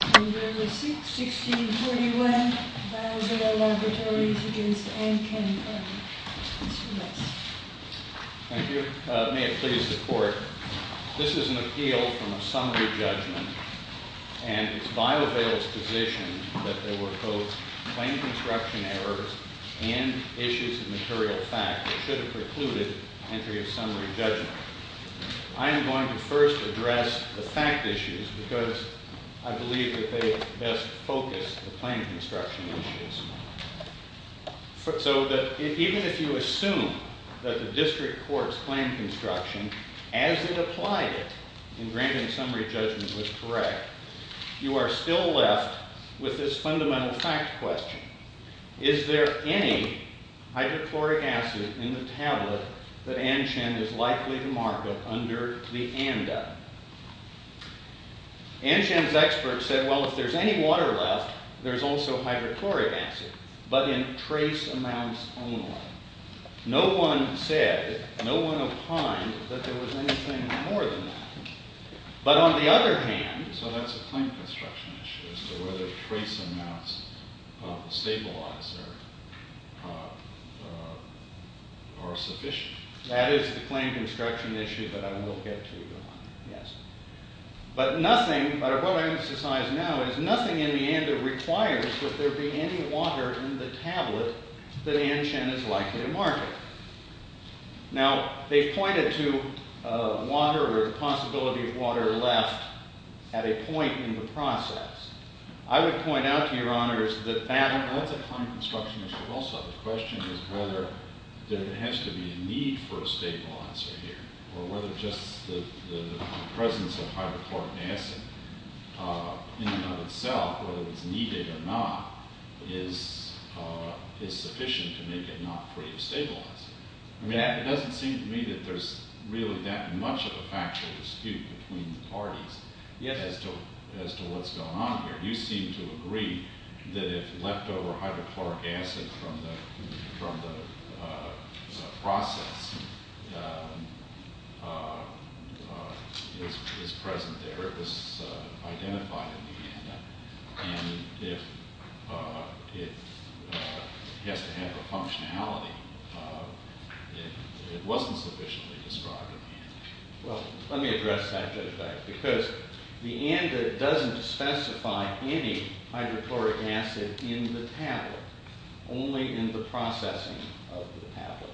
Thank you. May it please the Court. This is an appeal from a summary judgment, and it's Biovail's position that there were both claim construction errors and issues of material fact that should have precluded entry of summary judgment. I am going to first address the fact issues because I believe that they best focus the claim construction issues. So that even if you assume that the district court's claim construction, as it applied it, in granting summary judgment was correct, you are still left with this fundamental fact question. Is there any hydrochloric acid in the tablet that Anchen is likely to mark up under the ANDA? Anchen's experts said, well, if there's any water left, there's also hydrochloric acid, but in trace amounts only. No one said, no one opined that there was anything more than that. But on the other hand, so that's a claim construction issue as to whether trace amounts stabilize or are sufficient. That is the claim construction issue that I will get to. But what I want to emphasize now is nothing in the ANDA requires that there be any water in the tablet that Anchen is likely to mark up. Now, they pointed to water or the possibility of water left at a point in the process. I would point out to your honors that that's a claim construction issue also. The question is whether there has to be a need for a stable answer here or whether just the presence of hydrochloric acid in and of itself, whether it's needed or not, is sufficient to make it not free of stabilizing. I mean, it doesn't seem to me that there's really that much of a factual dispute between the parties as to what's going on here. You seem to agree that if leftover hydrochloric acid from the process is present there, it was identified in the ANDA. And if it has to have a functionality, it wasn't sufficiently described in the ANDA. Well, let me address that just a second. Because the ANDA doesn't specify any hydrochloric acid in the tablet, only in the processing of the tablet.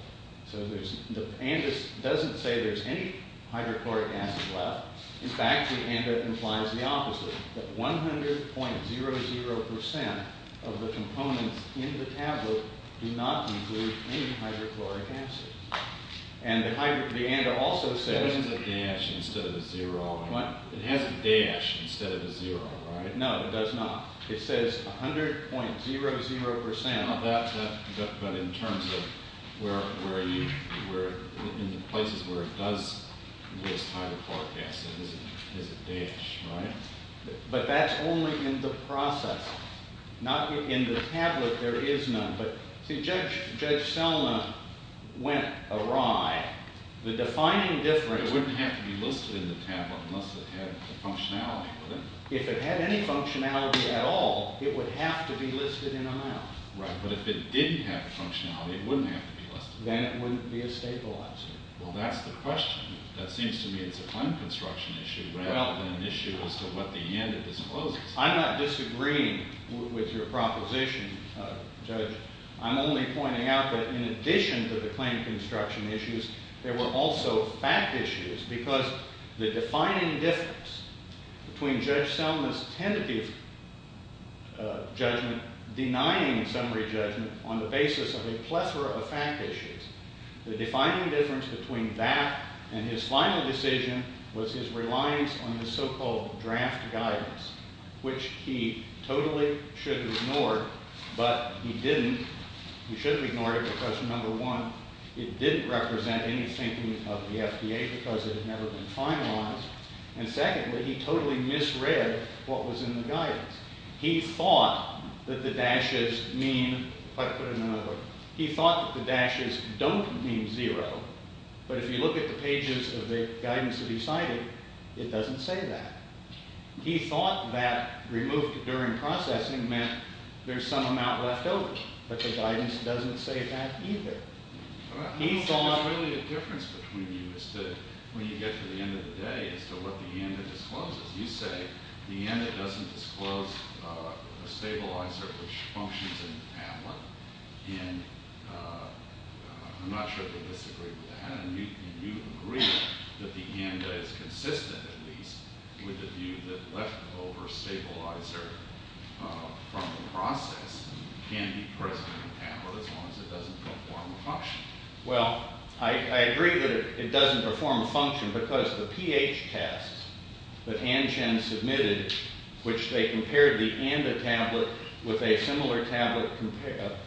So the ANDA doesn't say there's any hydrochloric acid left. In fact, the ANDA implies the opposite, that 100.00% of the components in the tablet do not include any hydrochloric acid. And the ANDA also says... It has a dash instead of a zero. What? It has a dash instead of a zero, right? No, it does not. It says 100.00%. But in terms of where are you, in the places where it does list hydrochloric acid, it has a dash, right? But that's only in the process. Not in the tablet, there is none. See, Judge Selma went awry. The defining difference... It wouldn't have to be listed in the tablet unless it had a functionality, would it? If it had any functionality at all, it would have to be listed in a mile. Right, but if it didn't have a functionality, it wouldn't have to be listed. Then it wouldn't be a stabilizer. Well, that's the question. That seems to me it's a time construction issue rather than an issue as to what the ANDA discloses. I'm not disagreeing with your proposition, Judge. I'm only pointing out that in addition to the claim construction issues, there were also fact issues. Because the defining difference between Judge Selma's tentative judgment denying summary judgment on the basis of a plethora of fact issues, the defining difference between that and his final decision was his reliance on the so-called draft guidance, which he totally should have ignored, but he didn't. He should have ignored it because, number one, it didn't represent any thinking of the FDA because it had never been finalized. And secondly, he totally misread what was in the guidance. He thought that the dashes mean... He thought that the dashes don't mean zero, but if you look at the pages of the guidance that he cited, it doesn't say that. He thought that removed during processing meant there's some amount left over, but the guidance doesn't say that either. I don't think there's really a difference between you as to when you get to the end of the day as to what the ANDA discloses. You say the ANDA doesn't disclose a stabilizer which functions in the tablet, and I'm not sure they disagree with that. And you agree that the ANDA is consistent, at least, with the view that leftover stabilizer from the process can be present in the tablet as long as it doesn't perform a function. Well, I agree that it doesn't perform a function because the pH tests that Ann Chen submitted, which they compared the ANDA tablet with a similar tablet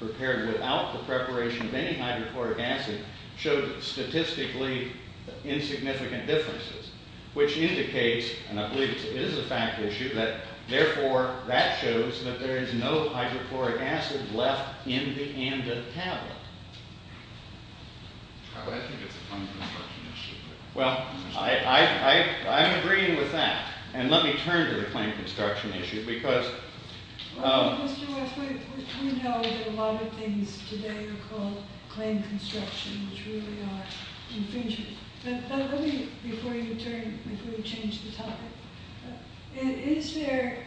prepared without the preparation of any hydrochloric acid, showed statistically insignificant differences, which indicates, and I believe this is a fact issue, that therefore that shows that there is no hydrochloric acid left in the ANDA tablet. I think it's a claim construction issue. Well, I'm agreeing with that, and let me turn to the claim construction issue because... Mr. West, we know that a lot of things today are called claim construction, which really are infringement. But let me, before you change the topic, is there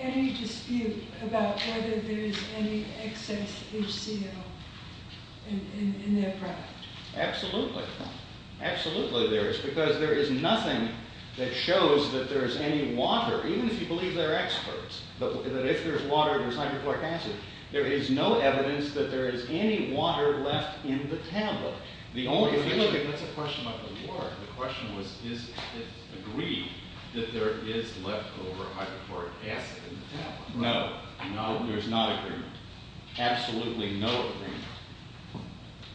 any dispute about whether there is any excess HCl in their product? Absolutely. Absolutely there is, because there is nothing that shows that there is any water, even if you believe they're experts, that if there's water in the hydrochloric acid, there is no evidence that there is any water left in the tablet. That's a question about the water. The question was, is it agreed that there is leftover hydrochloric acid in the tablet? No. There's not agreement. Absolutely no agreement.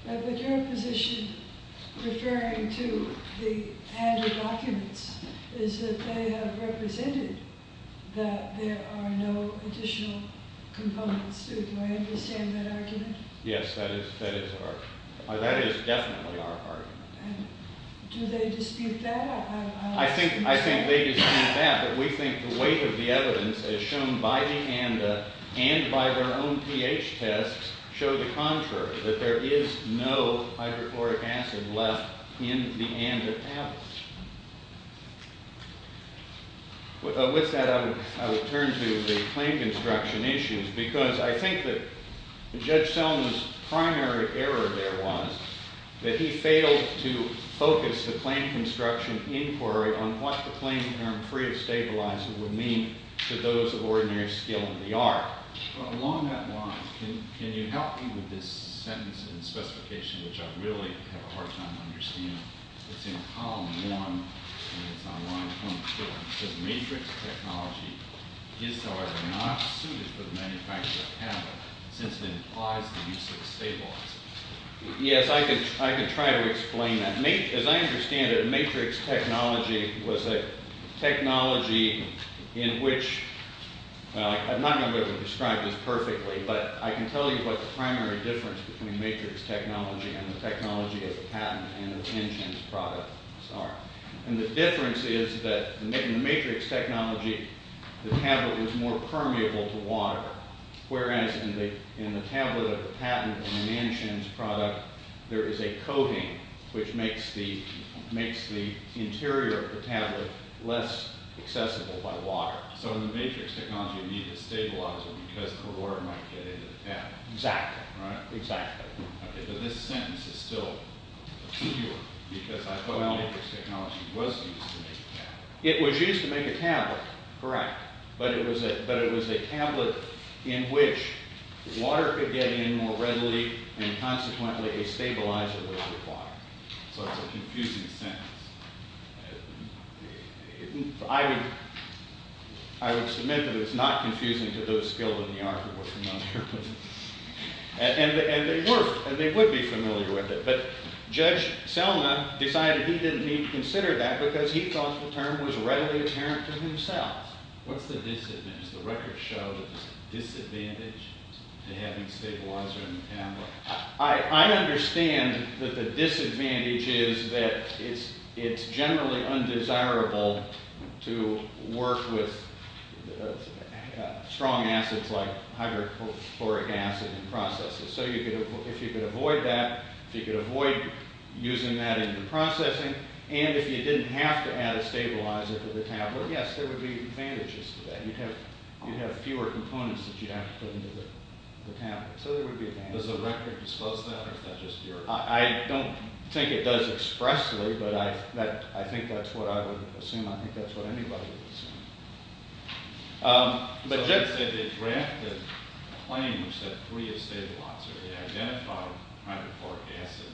But your position, referring to the ANDA documents, is that they have represented that there are no additional components to it. Do I understand that argument? Yes, that is our argument. That is definitely our argument. Do they dispute that? I think they dispute that, but we think the weight of the evidence, as shown by the ANDA and by their own pH tests, show the contrary, that there is no hydrochloric acid left in the ANDA tablets. With that, I will turn to the claim construction issues, because I think that Judge Selma's primary error there was that he failed to focus the claim construction inquiry on what the claim term free of stabilizer would mean to those of ordinary skill in the art. Along that line, can you help me with this sentence and specification, which I really have a hard time understanding? It's in column one, and it's on line 24. It says, matrix technology is, however, not suited for the manufacture of tablets, since it implies the use of stabilizers. Yes, I can try to explain that. As I understand it, matrix technology was a technology in which, I'm not going to be able to describe this perfectly, but I can tell you what the primary difference between matrix technology and the technology of the patent and the Nanshan's product are. The difference is that in the matrix technology, the tablet was more permeable to water, whereas in the tablet of the patent and the Nanshan's product, there is a coating, which makes the interior of the tablet less accessible by water. So in the matrix technology, you need a stabilizer because the water might get into the tablet. Exactly. But this sentence is still obscure, because I thought matrix technology was used to make tablets. It was used to make a tablet, correct, but it was a tablet in which water could get in more readily, and consequently, a stabilizer was required. So it's a confusing sentence. I would submit that it's not confusing to those skilled in the art who are familiar with it. And they would be familiar with it, but Judge Selma decided he didn't need to consider that because he thought the term was readily apparent to himself. What's the disadvantage? The record shows a disadvantage to having a stabilizer in the tablet. I understand that the disadvantage is that it's generally undesirable to work with strong acids like hydrochloric acid in processes. So if you could avoid that, if you could avoid using that in the processing, and if you didn't have to add a stabilizer to the tablet, yes, there would be advantages to that. You'd have fewer components that you'd have to put into the tablet. So there would be advantages. Does the record disclose that, or is that just your opinion? I don't think it does expressly, but I think that's what I would assume. I think that's what anybody would assume. So they drafted a claim which said free a stabilizer. They identified hydrochloric acid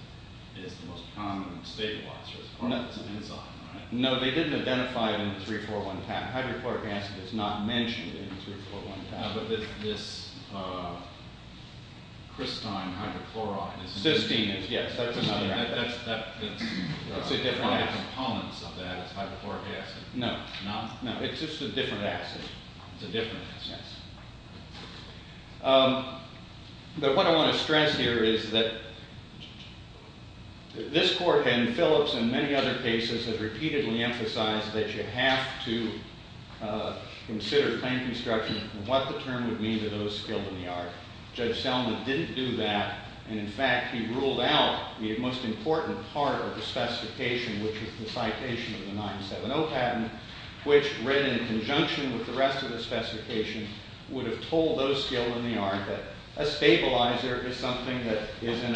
as the most common stabilizer as part of its enzyme, right? No, they didn't identify it in the 3-4-1 tablet. Hydrochloric acid is not mentioned in the 3-4-1 tablet. But this crystine hydrochloride? Cysteine, yes. That's another acid. That's a different acid. There are different components of that as hydrochloric acid. No. No? No, it's just a different acid. It's a different acid. Yes. But what I want to stress here is that this court and Phillips and many other cases have repeatedly emphasized that you have to consider claim construction and what the term would mean to those skilled in the art. Judge Selman didn't do that. And, in fact, he ruled out the most important part of the specification, which was the citation of the 970 patent, which read in conjunction with the rest of the specification would have told those skilled in the art that a stabilizer is something that is in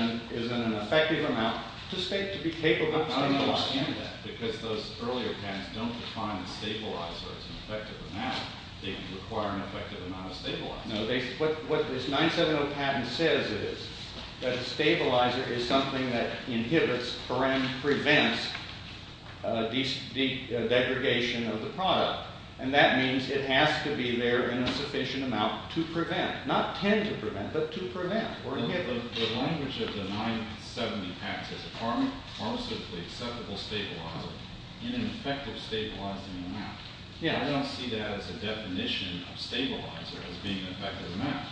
an effective amount to be capable of stabilizing. I don't understand that. Because those earlier patents don't define a stabilizer as an effective amount. They require an effective amount of stabilizers. No, what this 970 patent says is that a stabilizer is something that inhibits or prevents degradation of the product. And that means it has to be there in a sufficient amount to prevent, not tend to prevent, but to prevent or inhibit. The language of the 970 acts as a pharmaceutically acceptable stabilizer in an effective stabilizing amount. I don't see that as a definition of stabilizer as being an effective amount.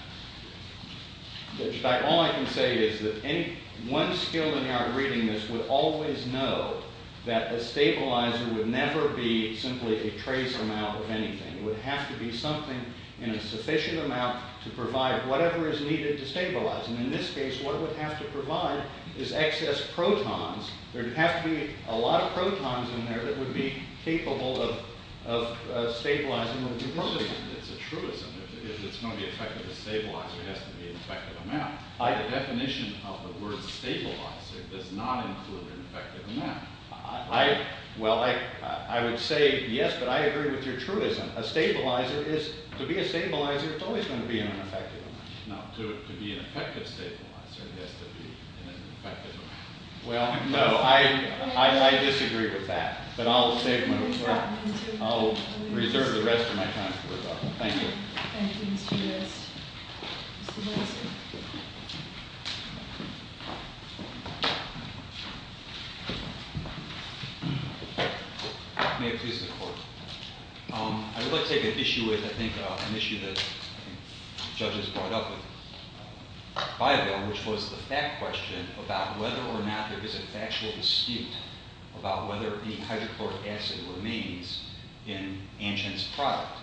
In fact, all I can say is that one skilled in the art reading this would always know that a stabilizer would never be simply a trace amount of anything. It would have to be something in a sufficient amount to provide whatever is needed to stabilize. And in this case, what it would have to provide is excess protons. There would have to be a lot of protons in there that would be capable of stabilizing. It's a truism. If it's going to be effective, a stabilizer has to be an effective amount. The definition of the word stabilizer does not include an effective amount. Well, I would say yes, but I agree with your truism. A stabilizer is, to be a stabilizer, it's always going to be an effective amount. No, to be an effective stabilizer, it has to be an effective amount. Well, no, I disagree with that. But I'll reserve the rest of my time for rebuttal. Thank you. Thank you, Mr. West. Mr. West. May it please the Court. I would like to take an issue with, I think, an issue that judges brought up with Biavel, which was the fact question about whether or not there is a factual dispute about whether any hydrochloric acid remains in Antgen's product.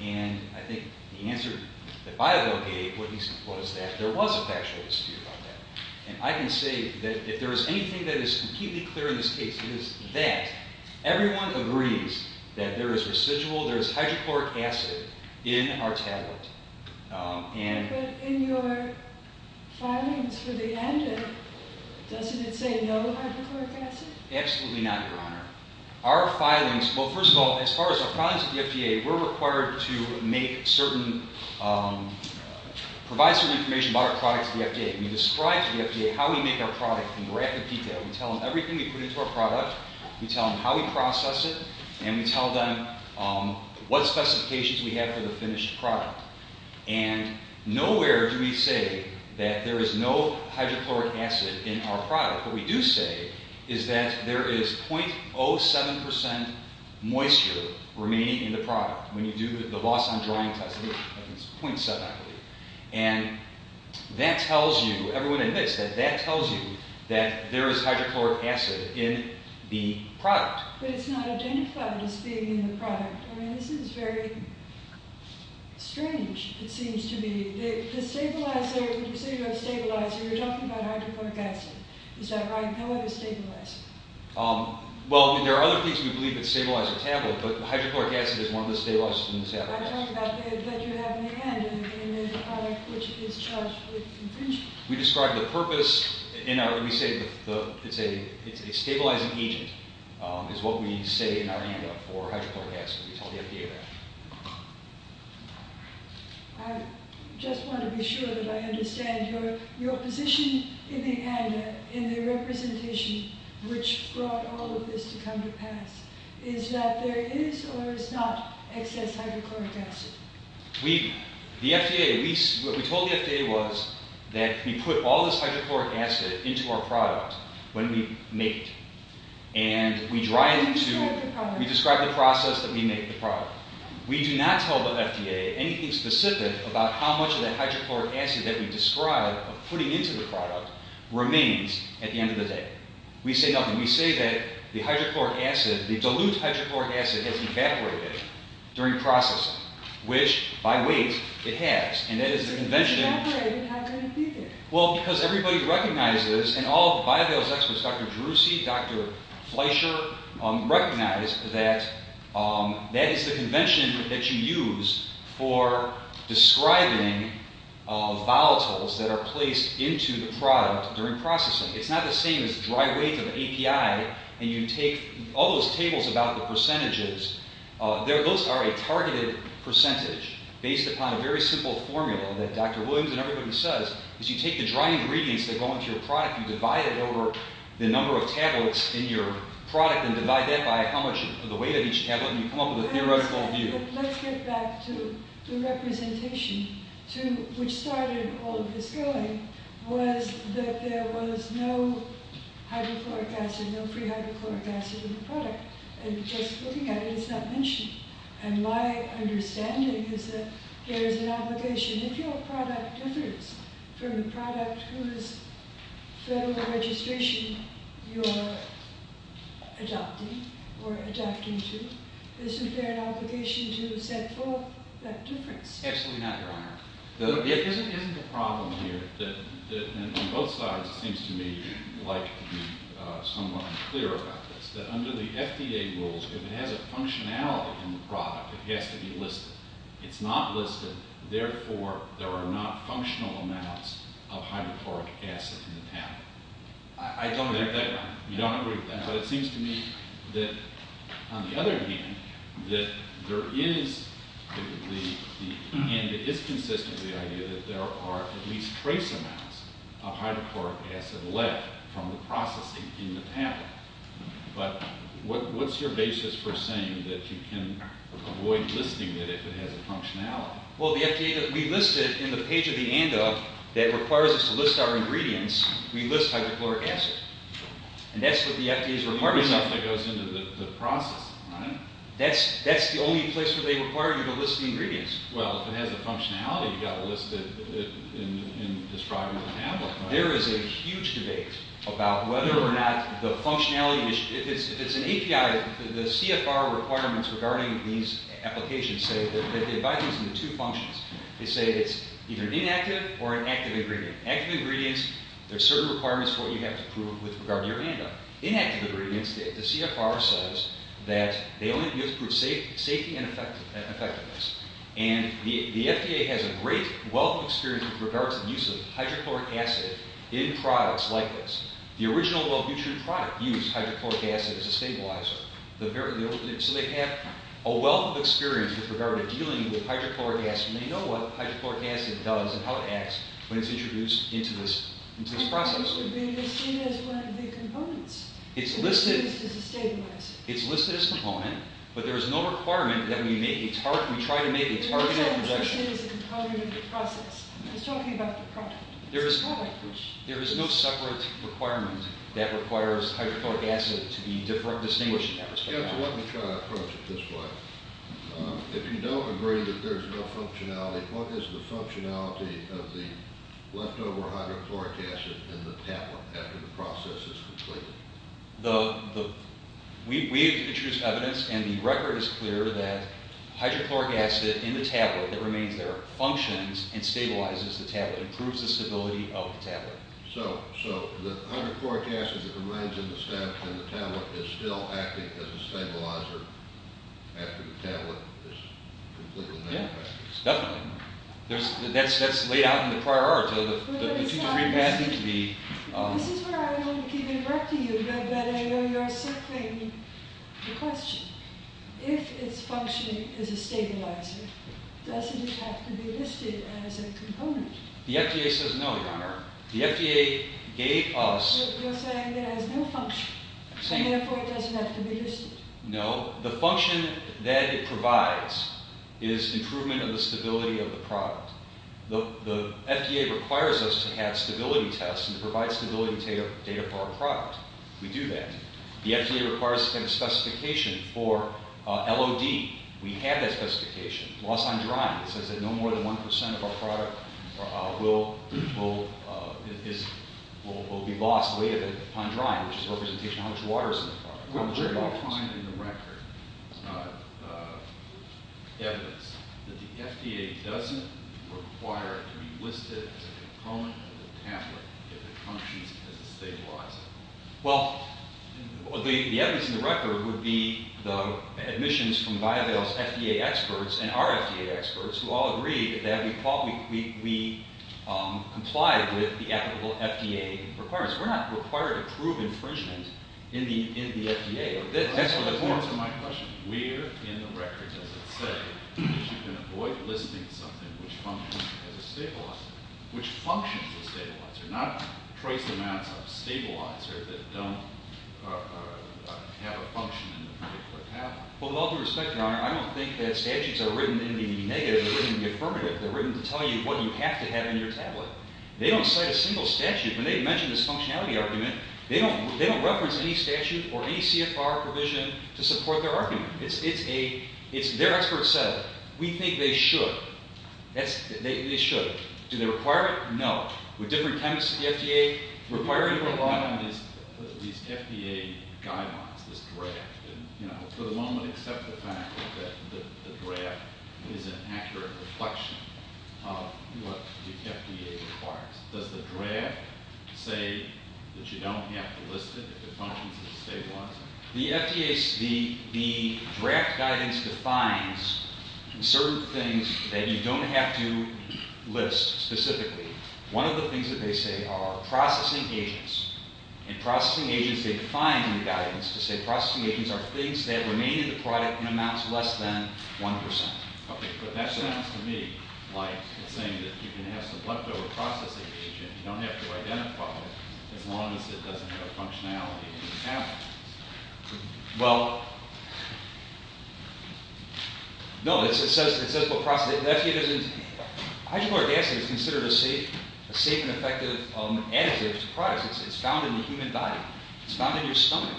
And I think the answer that Biavel gave was that there was a factual dispute about that. And I can say that if there is anything that is completely clear in this case, it is that everyone agrees that there is residual, there is hydrochloric acid in our tablet. But in your filings for the Antgen, doesn't it say no hydrochloric acid? Absolutely not, Your Honor. Our filings, well, first of all, as far as our filings with the FDA, we're required to make certain, provide certain information about our product to the FDA. We describe to the FDA how we make our product in rapid detail. We tell them everything we put into our product. We tell them how we process it. And we tell them what specifications we have for the finished product. And nowhere do we say that there is no hydrochloric acid in our product. What we do say is that there is 0.07 percent moisture remaining in the product. When you do the Bosson drying test, it's 0.7, I believe. And that tells you, everyone admits that that tells you that there is hydrochloric acid in the product. But it's not identified as being in the product. I mean, this is very strange, it seems to me. The stabilizer, when you say you have a stabilizer, you're talking about hydrochloric acid. Is that right? No other stabilizer? Well, there are other things we believe that stabilize a tablet, but hydrochloric acid is one of the stabilizers in the stabilizer. I'm talking about that you have Neanderthal in the product, which is charged with infringement. We describe the purpose, and we say it's a stabilizing agent, is what we say in our handout for hydrochloric acid. We tell the FDA that. I just want to be sure that I understand your position in Neanderthal, in the representation which brought all of this to come to pass. Is that there is or is not excess hydrochloric acid? The FDA, what we told the FDA was that we put all this hydrochloric acid into our product when we make it. And we describe the process that we make the product. We do not tell the FDA anything specific about how much of that hydrochloric acid that we describe of putting into the product remains at the end of the day. We say nothing. We say that the hydrochloric acid, the dilute hydrochloric acid has evaporated during processing, which, by weight, it has. And that is the convention. It's evaporated. How can it be there? Well, because everybody recognizes, and all of the biovials experts, Dr. Drusey, Dr. Fleischer, recognize that that is the convention that you use for describing volatiles that are placed into the product during processing. It's not the same as dry weight of API. And you take all those tables about the percentages. Those are a targeted percentage based upon a very simple formula that Dr. Williams and everybody says is you take the dry ingredients that go into your product, you divide it over the number of tablets in your product, and divide that by how much of the weight of each tablet, and you come up with a theoretical view. But let's get back to the representation, which started all of this going, was that there was no hydrochloric acid, no free hydrochloric acid in the product. And just looking at it, it's not mentioned. And my understanding is that there is an obligation. If your product differs from the product whose federal registration you're adopting or adapting to, isn't there an obligation to set forth that difference? Absolutely not, Your Honor. There isn't a problem here. And on both sides, it seems to me like to be somewhat unclear about this, that under the FDA rules, if it has a functionality in the product, it has to be listed. It's not listed. Therefore, there are not functional amounts of hydrochloric acid in the tablet. I don't agree with that. You don't agree with that. But it seems to me that, on the other hand, that there is, and it is consistent with the idea, that there are at least trace amounts of hydrochloric acid left from the processing in the tablet. But what's your basis for saying that you can avoid listing it if it has a functionality? Well, the FDA, we list it in the page of the ANDA that requires us to list our ingredients. We list hydrochloric acid. And that's what the FDA's requirement is. It's the only stuff that goes into the process, right? That's the only place where they require you to list the ingredients. Well, if it has a functionality, you've got to list it in this product or tablet, right? There is a huge debate about whether or not the functionality, if it's an API, the CFR requirements regarding these applications say that they divide these into two functions. They say it's either inactive or an active ingredient. Active ingredients, there are certain requirements for what you have to prove with regard to your ANDA. Inactive ingredients, the CFR says that they only use it for safety and effectiveness. And the FDA has a great wealth of experience with regards to the use of hydrochloric acid in products like this. The original Wellbutrin product used hydrochloric acid as a stabilizer. So they have a wealth of experience with regard to dealing with hydrochloric acid. And they know what hydrochloric acid does and how it acts when it's introduced into this process. It's listed as one of the components. It's listed as a component, but there is no requirement that we try to make a targeted projection. You said it's listed as a component of the process. I was talking about the product. There is no separate requirement that requires hydrochloric acid to be distinguished in that respect. Let me try to approach it this way. If you don't agree that there's no functionality, what is the functionality of the leftover hydrochloric acid in the tablet after the process is completed? We have introduced evidence and the record is clear that hydrochloric acid in the tablet that remains there functions and stabilizes the tablet, improves the stability of the tablet. So the hydrochloric acid that remains in the tablet is still acting as a stabilizer after the tablet is completely manufactured? Yes, definitely. That's laid out in the prior art. Let me try to understand. This is where I want to keep interrupting you, but I know you're circling the question. If it's functioning as a stabilizer, doesn't it have to be listed as a component? The FDA says no, Your Honor. The FDA gave us... You're saying it has no function, and therefore it doesn't have to be listed? No. The function that it provides is improvement of the stability of the product. The FDA requires us to have stability tests and to provide stability data for our product. We do that. The FDA requires us to have a specification for LOD. We have that specification. Loss on drying. It says that no more than 1% of our product will be lost on drying, which is a representation of how much water is in the product. Where do you find in the record evidence that the FDA doesn't require it to be listed as a component of the tablet if it functions as a stabilizer? Well, the evidence in the record would be the admissions from BioVale's FDA experts and our FDA experts, who all agree that we comply with the applicable FDA requirements. We're not required to prove infringement in the FDA. Answer my question. Where in the record does it say that you can avoid listing something which functions as a stabilizer? Which functions as a stabilizer, not trace amounts of stabilizer that don't have a function in the product or tablet? Well, with all due respect, Your Honor, I don't think that statutes are written in the negative or in the affirmative. They're written to tell you what you have to have in your tablet. They don't cite a single statute. When they mention this functionality argument, they don't reference any statute or any CFR provision to support their argument. It's a – it's – their experts said, we think they should. That's – they should. Do they require it? No. With different types of FDA? Required to rely on these FDA guidelines, this draft. And, you know, for the moment, accept the fact that the draft is an accurate reflection of what the FDA requires. Does the draft say that you don't have to list it if it functions as a stabilizer? The FDA – the draft guidance defines certain things that you don't have to list specifically. One of the things that they say are processing agents. And processing agents, they define in the guidance to say processing agents are things that remain in the product in amounts less than 1 percent. Okay, but that sounds to me like it's saying that you can have some leftover processing agent. You don't have to identify it as long as it doesn't have a functionality in the tablet. Well, no. It says what process – the FDA doesn't – hydrochloric acid is considered a safe and effective additive to products. It's found in the human body. It's found in your stomach.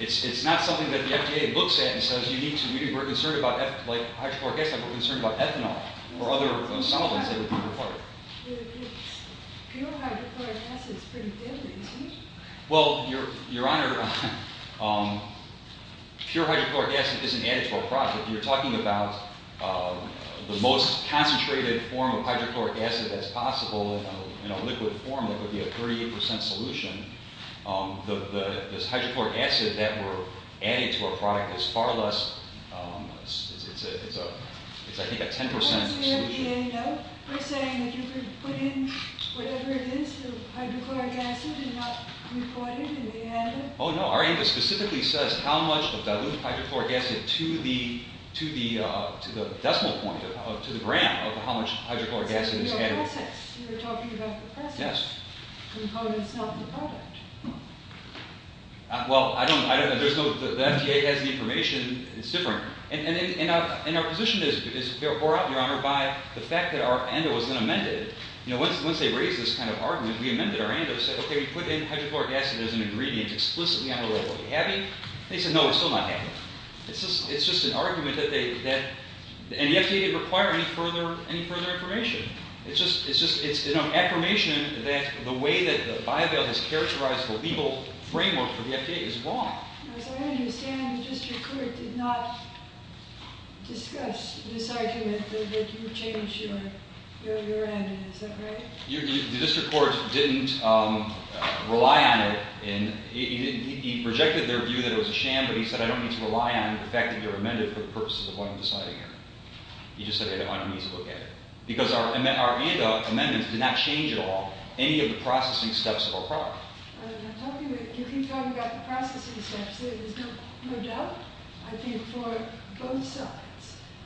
It's not something that the FDA looks at and says, you need to – we're concerned about – like hydrochloric acid, we're concerned about ethanol or other solvents that would be required. Your hydrochloric acid is pretty deadly, isn't it? Well, Your Honor, pure hydrochloric acid isn't added to our product. You're talking about the most concentrated form of hydrochloric acid that's possible in a liquid form that would be a 38 percent solution. The – this hydrochloric acid that we're adding to our product is far less – it's a – it's, I think, a 10 percent solution. Does the FDA know? They're saying that you could put in whatever it is, the hydrochloric acid, and not report it and they handle it? Oh, no. Our ANDA specifically says how much of dilute hydrochloric acid to the – to the decimal point of – to the gram of how much hydrochloric acid is added. It says in your process. You were talking about the process. Yes. Components, not the product. Well, I don't – there's no – the FDA has the information. It's different. And our position is, Your Honor, by the fact that our ANDA was then amended. You know, once they raised this kind of argument, we amended our ANDA and said, okay, we put in hydrochloric acid as an ingredient explicitly on the label. Are we happy? They said, no, we're still not happy. It's just an argument that they – and the FDA didn't require any further information. It's just – it's an affirmation that the way that the bio-build has characterized the legal framework for the FDA is wrong. As I understand, the district court did not discuss this argument that you changed your – your ANDA. Is that right? The district court didn't rely on it in – he rejected their view that it was a sham, but he said, I don't need to rely on the fact that you're amended for the purposes of what I'm deciding here. He just said, I don't want you to look at it. Because our – our ANDA amendments did not change at all any of the processing steps of our product. You keep talking about the processing steps. There's no doubt, I think, for both sides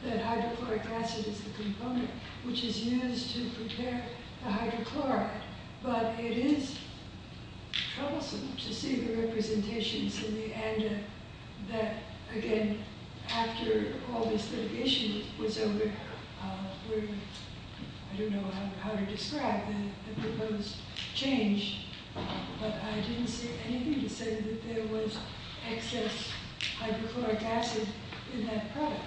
that hydrochloric acid is the component which is used to prepare the hydrochloric. But it is troublesome to see the representations in the ANDA that, again, after all this litigation was over, I don't know how to describe the proposed change. But I didn't see anything that said that there was excess hydrochloric acid in that product.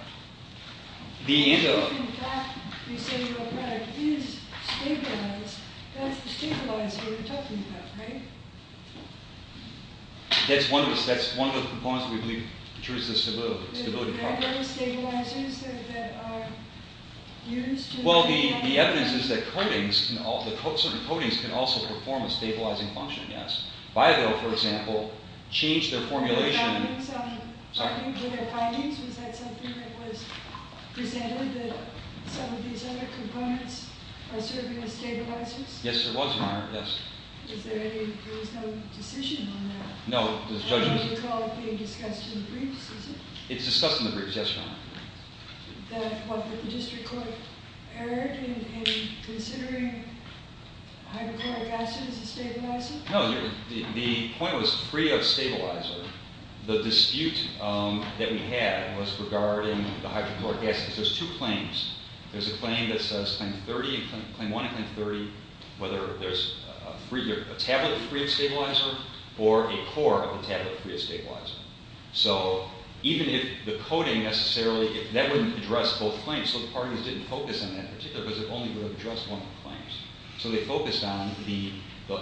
The ANDA – If, in fact, you say your product is stabilized, that's the stabilizer you're talking about, right? That's one of the – that's one of the components we believe ensures the stability of the product. Are there stabilizers that are used to – Well, the evidence is that coatings can – certain coatings can also perform a stabilizing function, yes. Bival, for example, changed their formulation – Were there findings? Was that something that was presented, that some of these other components are serving as stabilizers? Yes, there was, Your Honor, yes. Is there any – there was no decision on that? No, the judge – I don't recall it being discussed in the briefs, is it? It's discussed in the briefs, yes, Your Honor. That what the district court heard in considering hydrochloric acid as a stabilizer? No, the point was free of stabilizer. The dispute that we had was regarding the hydrochloric acid. There's two claims. There's a claim that says claim 30, claim 1 and claim 30, whether there's a free – a tablet free of stabilizer or a core of the tablet free of stabilizer. So even if the coating necessarily – if that wouldn't address both claims, so the parties didn't focus on that in particular because it only would have addressed one of the claims. So they focused on the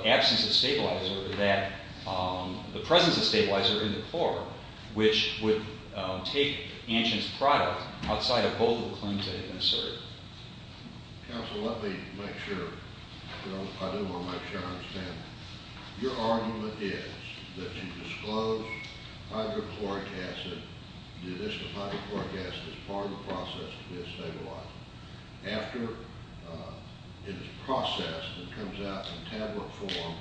absence of stabilizer that – the presence of stabilizer in the core, which would take Antion's product outside of both of the claims that had been asserted. Counsel, let me make sure – I do want to make sure I understand. Your argument is that you disclose hydrochloric acid, do this to hydrochloric acid as part of the process to be a stabilizer. After it is processed and comes out in tablet form,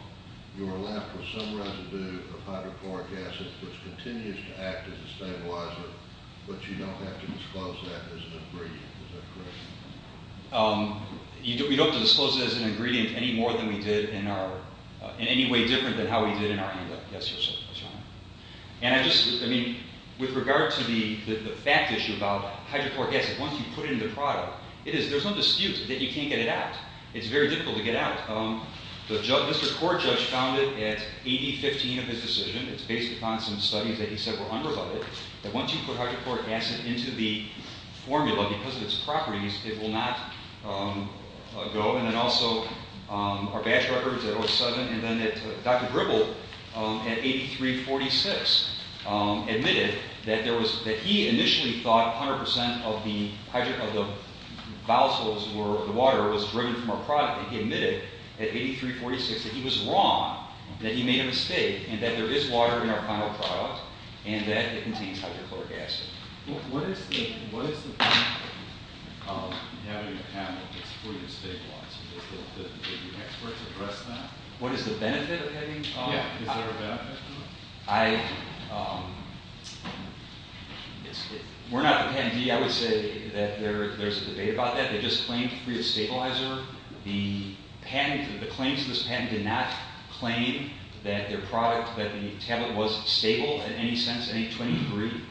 you are left with some residue of hydrochloric acid, which continues to act as a stabilizer, but you don't have to disclose that as an ingredient. Is that correct? You don't have to disclose it as an ingredient any more than we did in our – in any way different than how we did in our handout. Yes, Your Honor. And I just – I mean, with regard to the fact issue about hydrochloric acid, once you put it in the product, it is – there's no dispute that you can't get it out. It's very difficult to get out. The – Mr. Court Judge found it at 80-15 of his decision. It's based upon some studies that he said were unrebutted, that once you put hydrochloric acid into the formula because of its properties, it will not go. And then also our batch records at 07, and then that Dr. Dribble at 83-46 admitted that there was – that he initially thought 100 percent of the hydrochloric – of the vials were – the water was driven from our product. And he admitted at 83-46 that he was wrong, that he made a mistake, and that there is water in our final product and that it contains hydrochloric acid. What is the benefit of having a panel that's free of stabilizers? Did the experts address that? What is the benefit of having – Yeah, is there a benefit to it? I – if we're not the patentee, I would say that there's a debate about that. They just claimed free of stabilizer. The patent – the claims of this patent did not claim that their product – that the tablet was stable in any sense, any 20-degree,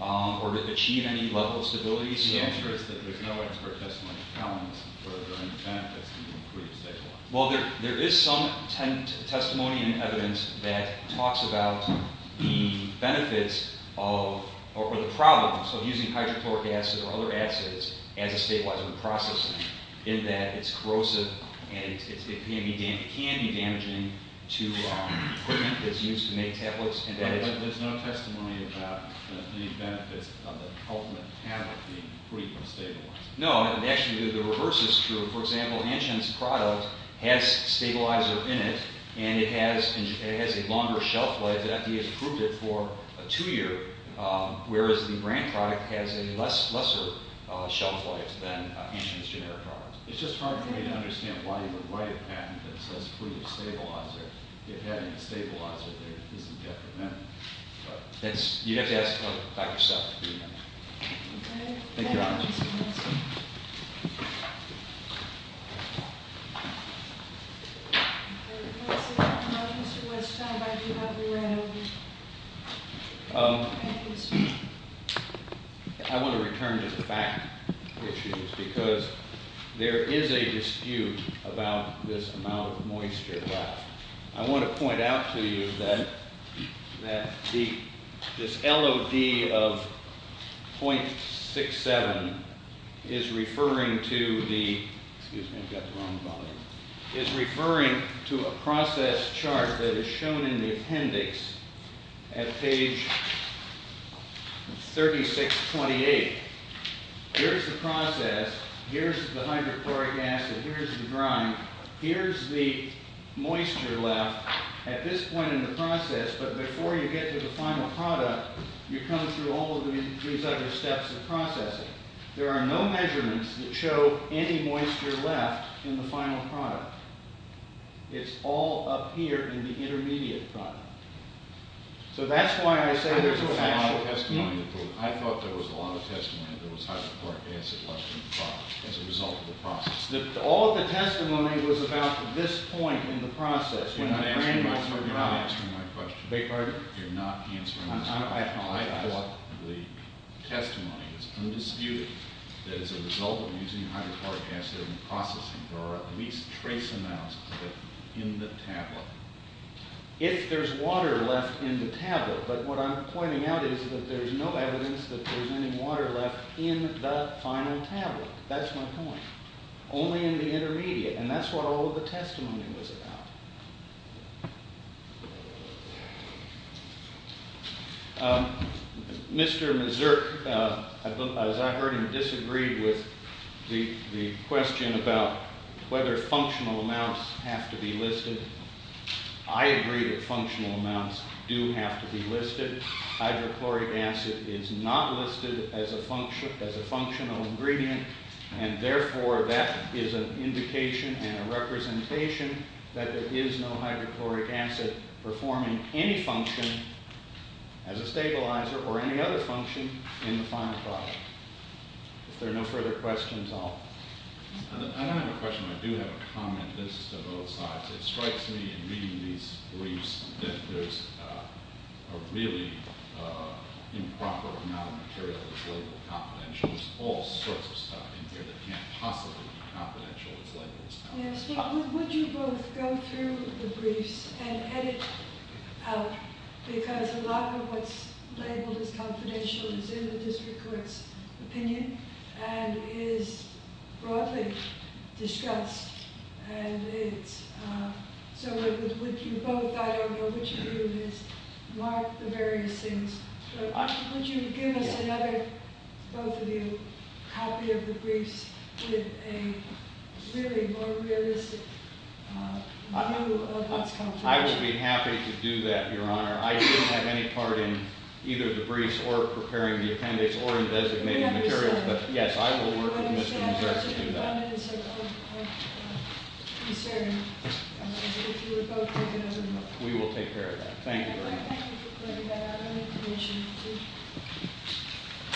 or achieve any level of stability. The answer is that there's no expert testimony found for their intent as to being free of stabilizer. Well, there is some testimony and evidence that talks about the benefits of – or the problems of using hydrochloric acid or other acids as a stabilizer in processing, in that it's corrosive and it can be damaging to equipment that's used to make tablets. But there's no testimony about any benefits of the ultimate tablet being free from stabilizer. No, actually, the reverse is true. For example, Antgen's product has stabilizer in it, and it has a longer shelf life. FDA has approved it for a two-year, whereas the brand product has a less – lesser shelf life than Antgen's generic product. It's just hard for me to understand why you would write a patent that says free of stabilizer if having a stabilizer there isn't detrimental. But that's – you'd have to ask Dr. Seff to do that. Thank you, Your Honor. I want to return to the fact issues because there is a dispute about this amount of moisture left. I want to point out to you that this LOD of 0.67 is referring to the – excuse me, I've got the wrong volume – is referring to a process chart that is shown in the appendix at page 3628. Here's the process. Here's the hydrochloric acid. Here's the grime. Here's the moisture left at this point in the process, but before you get to the final product, you come through all of these other steps of processing. There are no measurements that show any moisture left in the final product. It's all up here in the intermediate product. So that's why I say there's a – I thought there was a lot of testimony that there was hydrochloric acid left in the product as a result of the process. All of the testimony was about this point in the process. You're not answering my question. Beg your pardon? You're not answering my question. I apologize. I thought the testimony was undisputed that as a result of using hydrochloric acid in processing, there are at least trace amounts of it in the tablet. If there's water left in the tablet, but what I'm pointing out is that there's no evidence that there's any water left in the final tablet. That's my point. Only in the intermediate, and that's what all of the testimony was about. Mr. Mazurk, as I heard him disagree with the question about whether functional amounts have to be listed, I agree that functional amounts do have to be listed. Hydrochloric acid is not listed as a functional ingredient, and therefore that is an indication and a representation that there is no hydrochloric acid performing any function as a stabilizer or any other function in the final product. If there are no further questions, I'll – I don't have a question. I do have a comment. This is to both sides. It strikes me in reading these briefs that there's a really improper amount of material that's labeled confidential. There's all sorts of stuff in here that can't possibly be confidential that's labeled confidential. Would you both go through the briefs and edit out, because a lot of what's labeled as confidential is in the district court's opinion and is broadly discussed, and it's – so would you both – I don't know which of you has marked the various things, but would you give us another, both of you, copy of the briefs with a really more realistic view of what's confidential? I would be happy to do that, Your Honor. I didn't have any part in either the briefs or preparing the appendix or in designating materials, but, yes, I will work with Mr. Breslin to do that. We will take care of that. Thank you very much.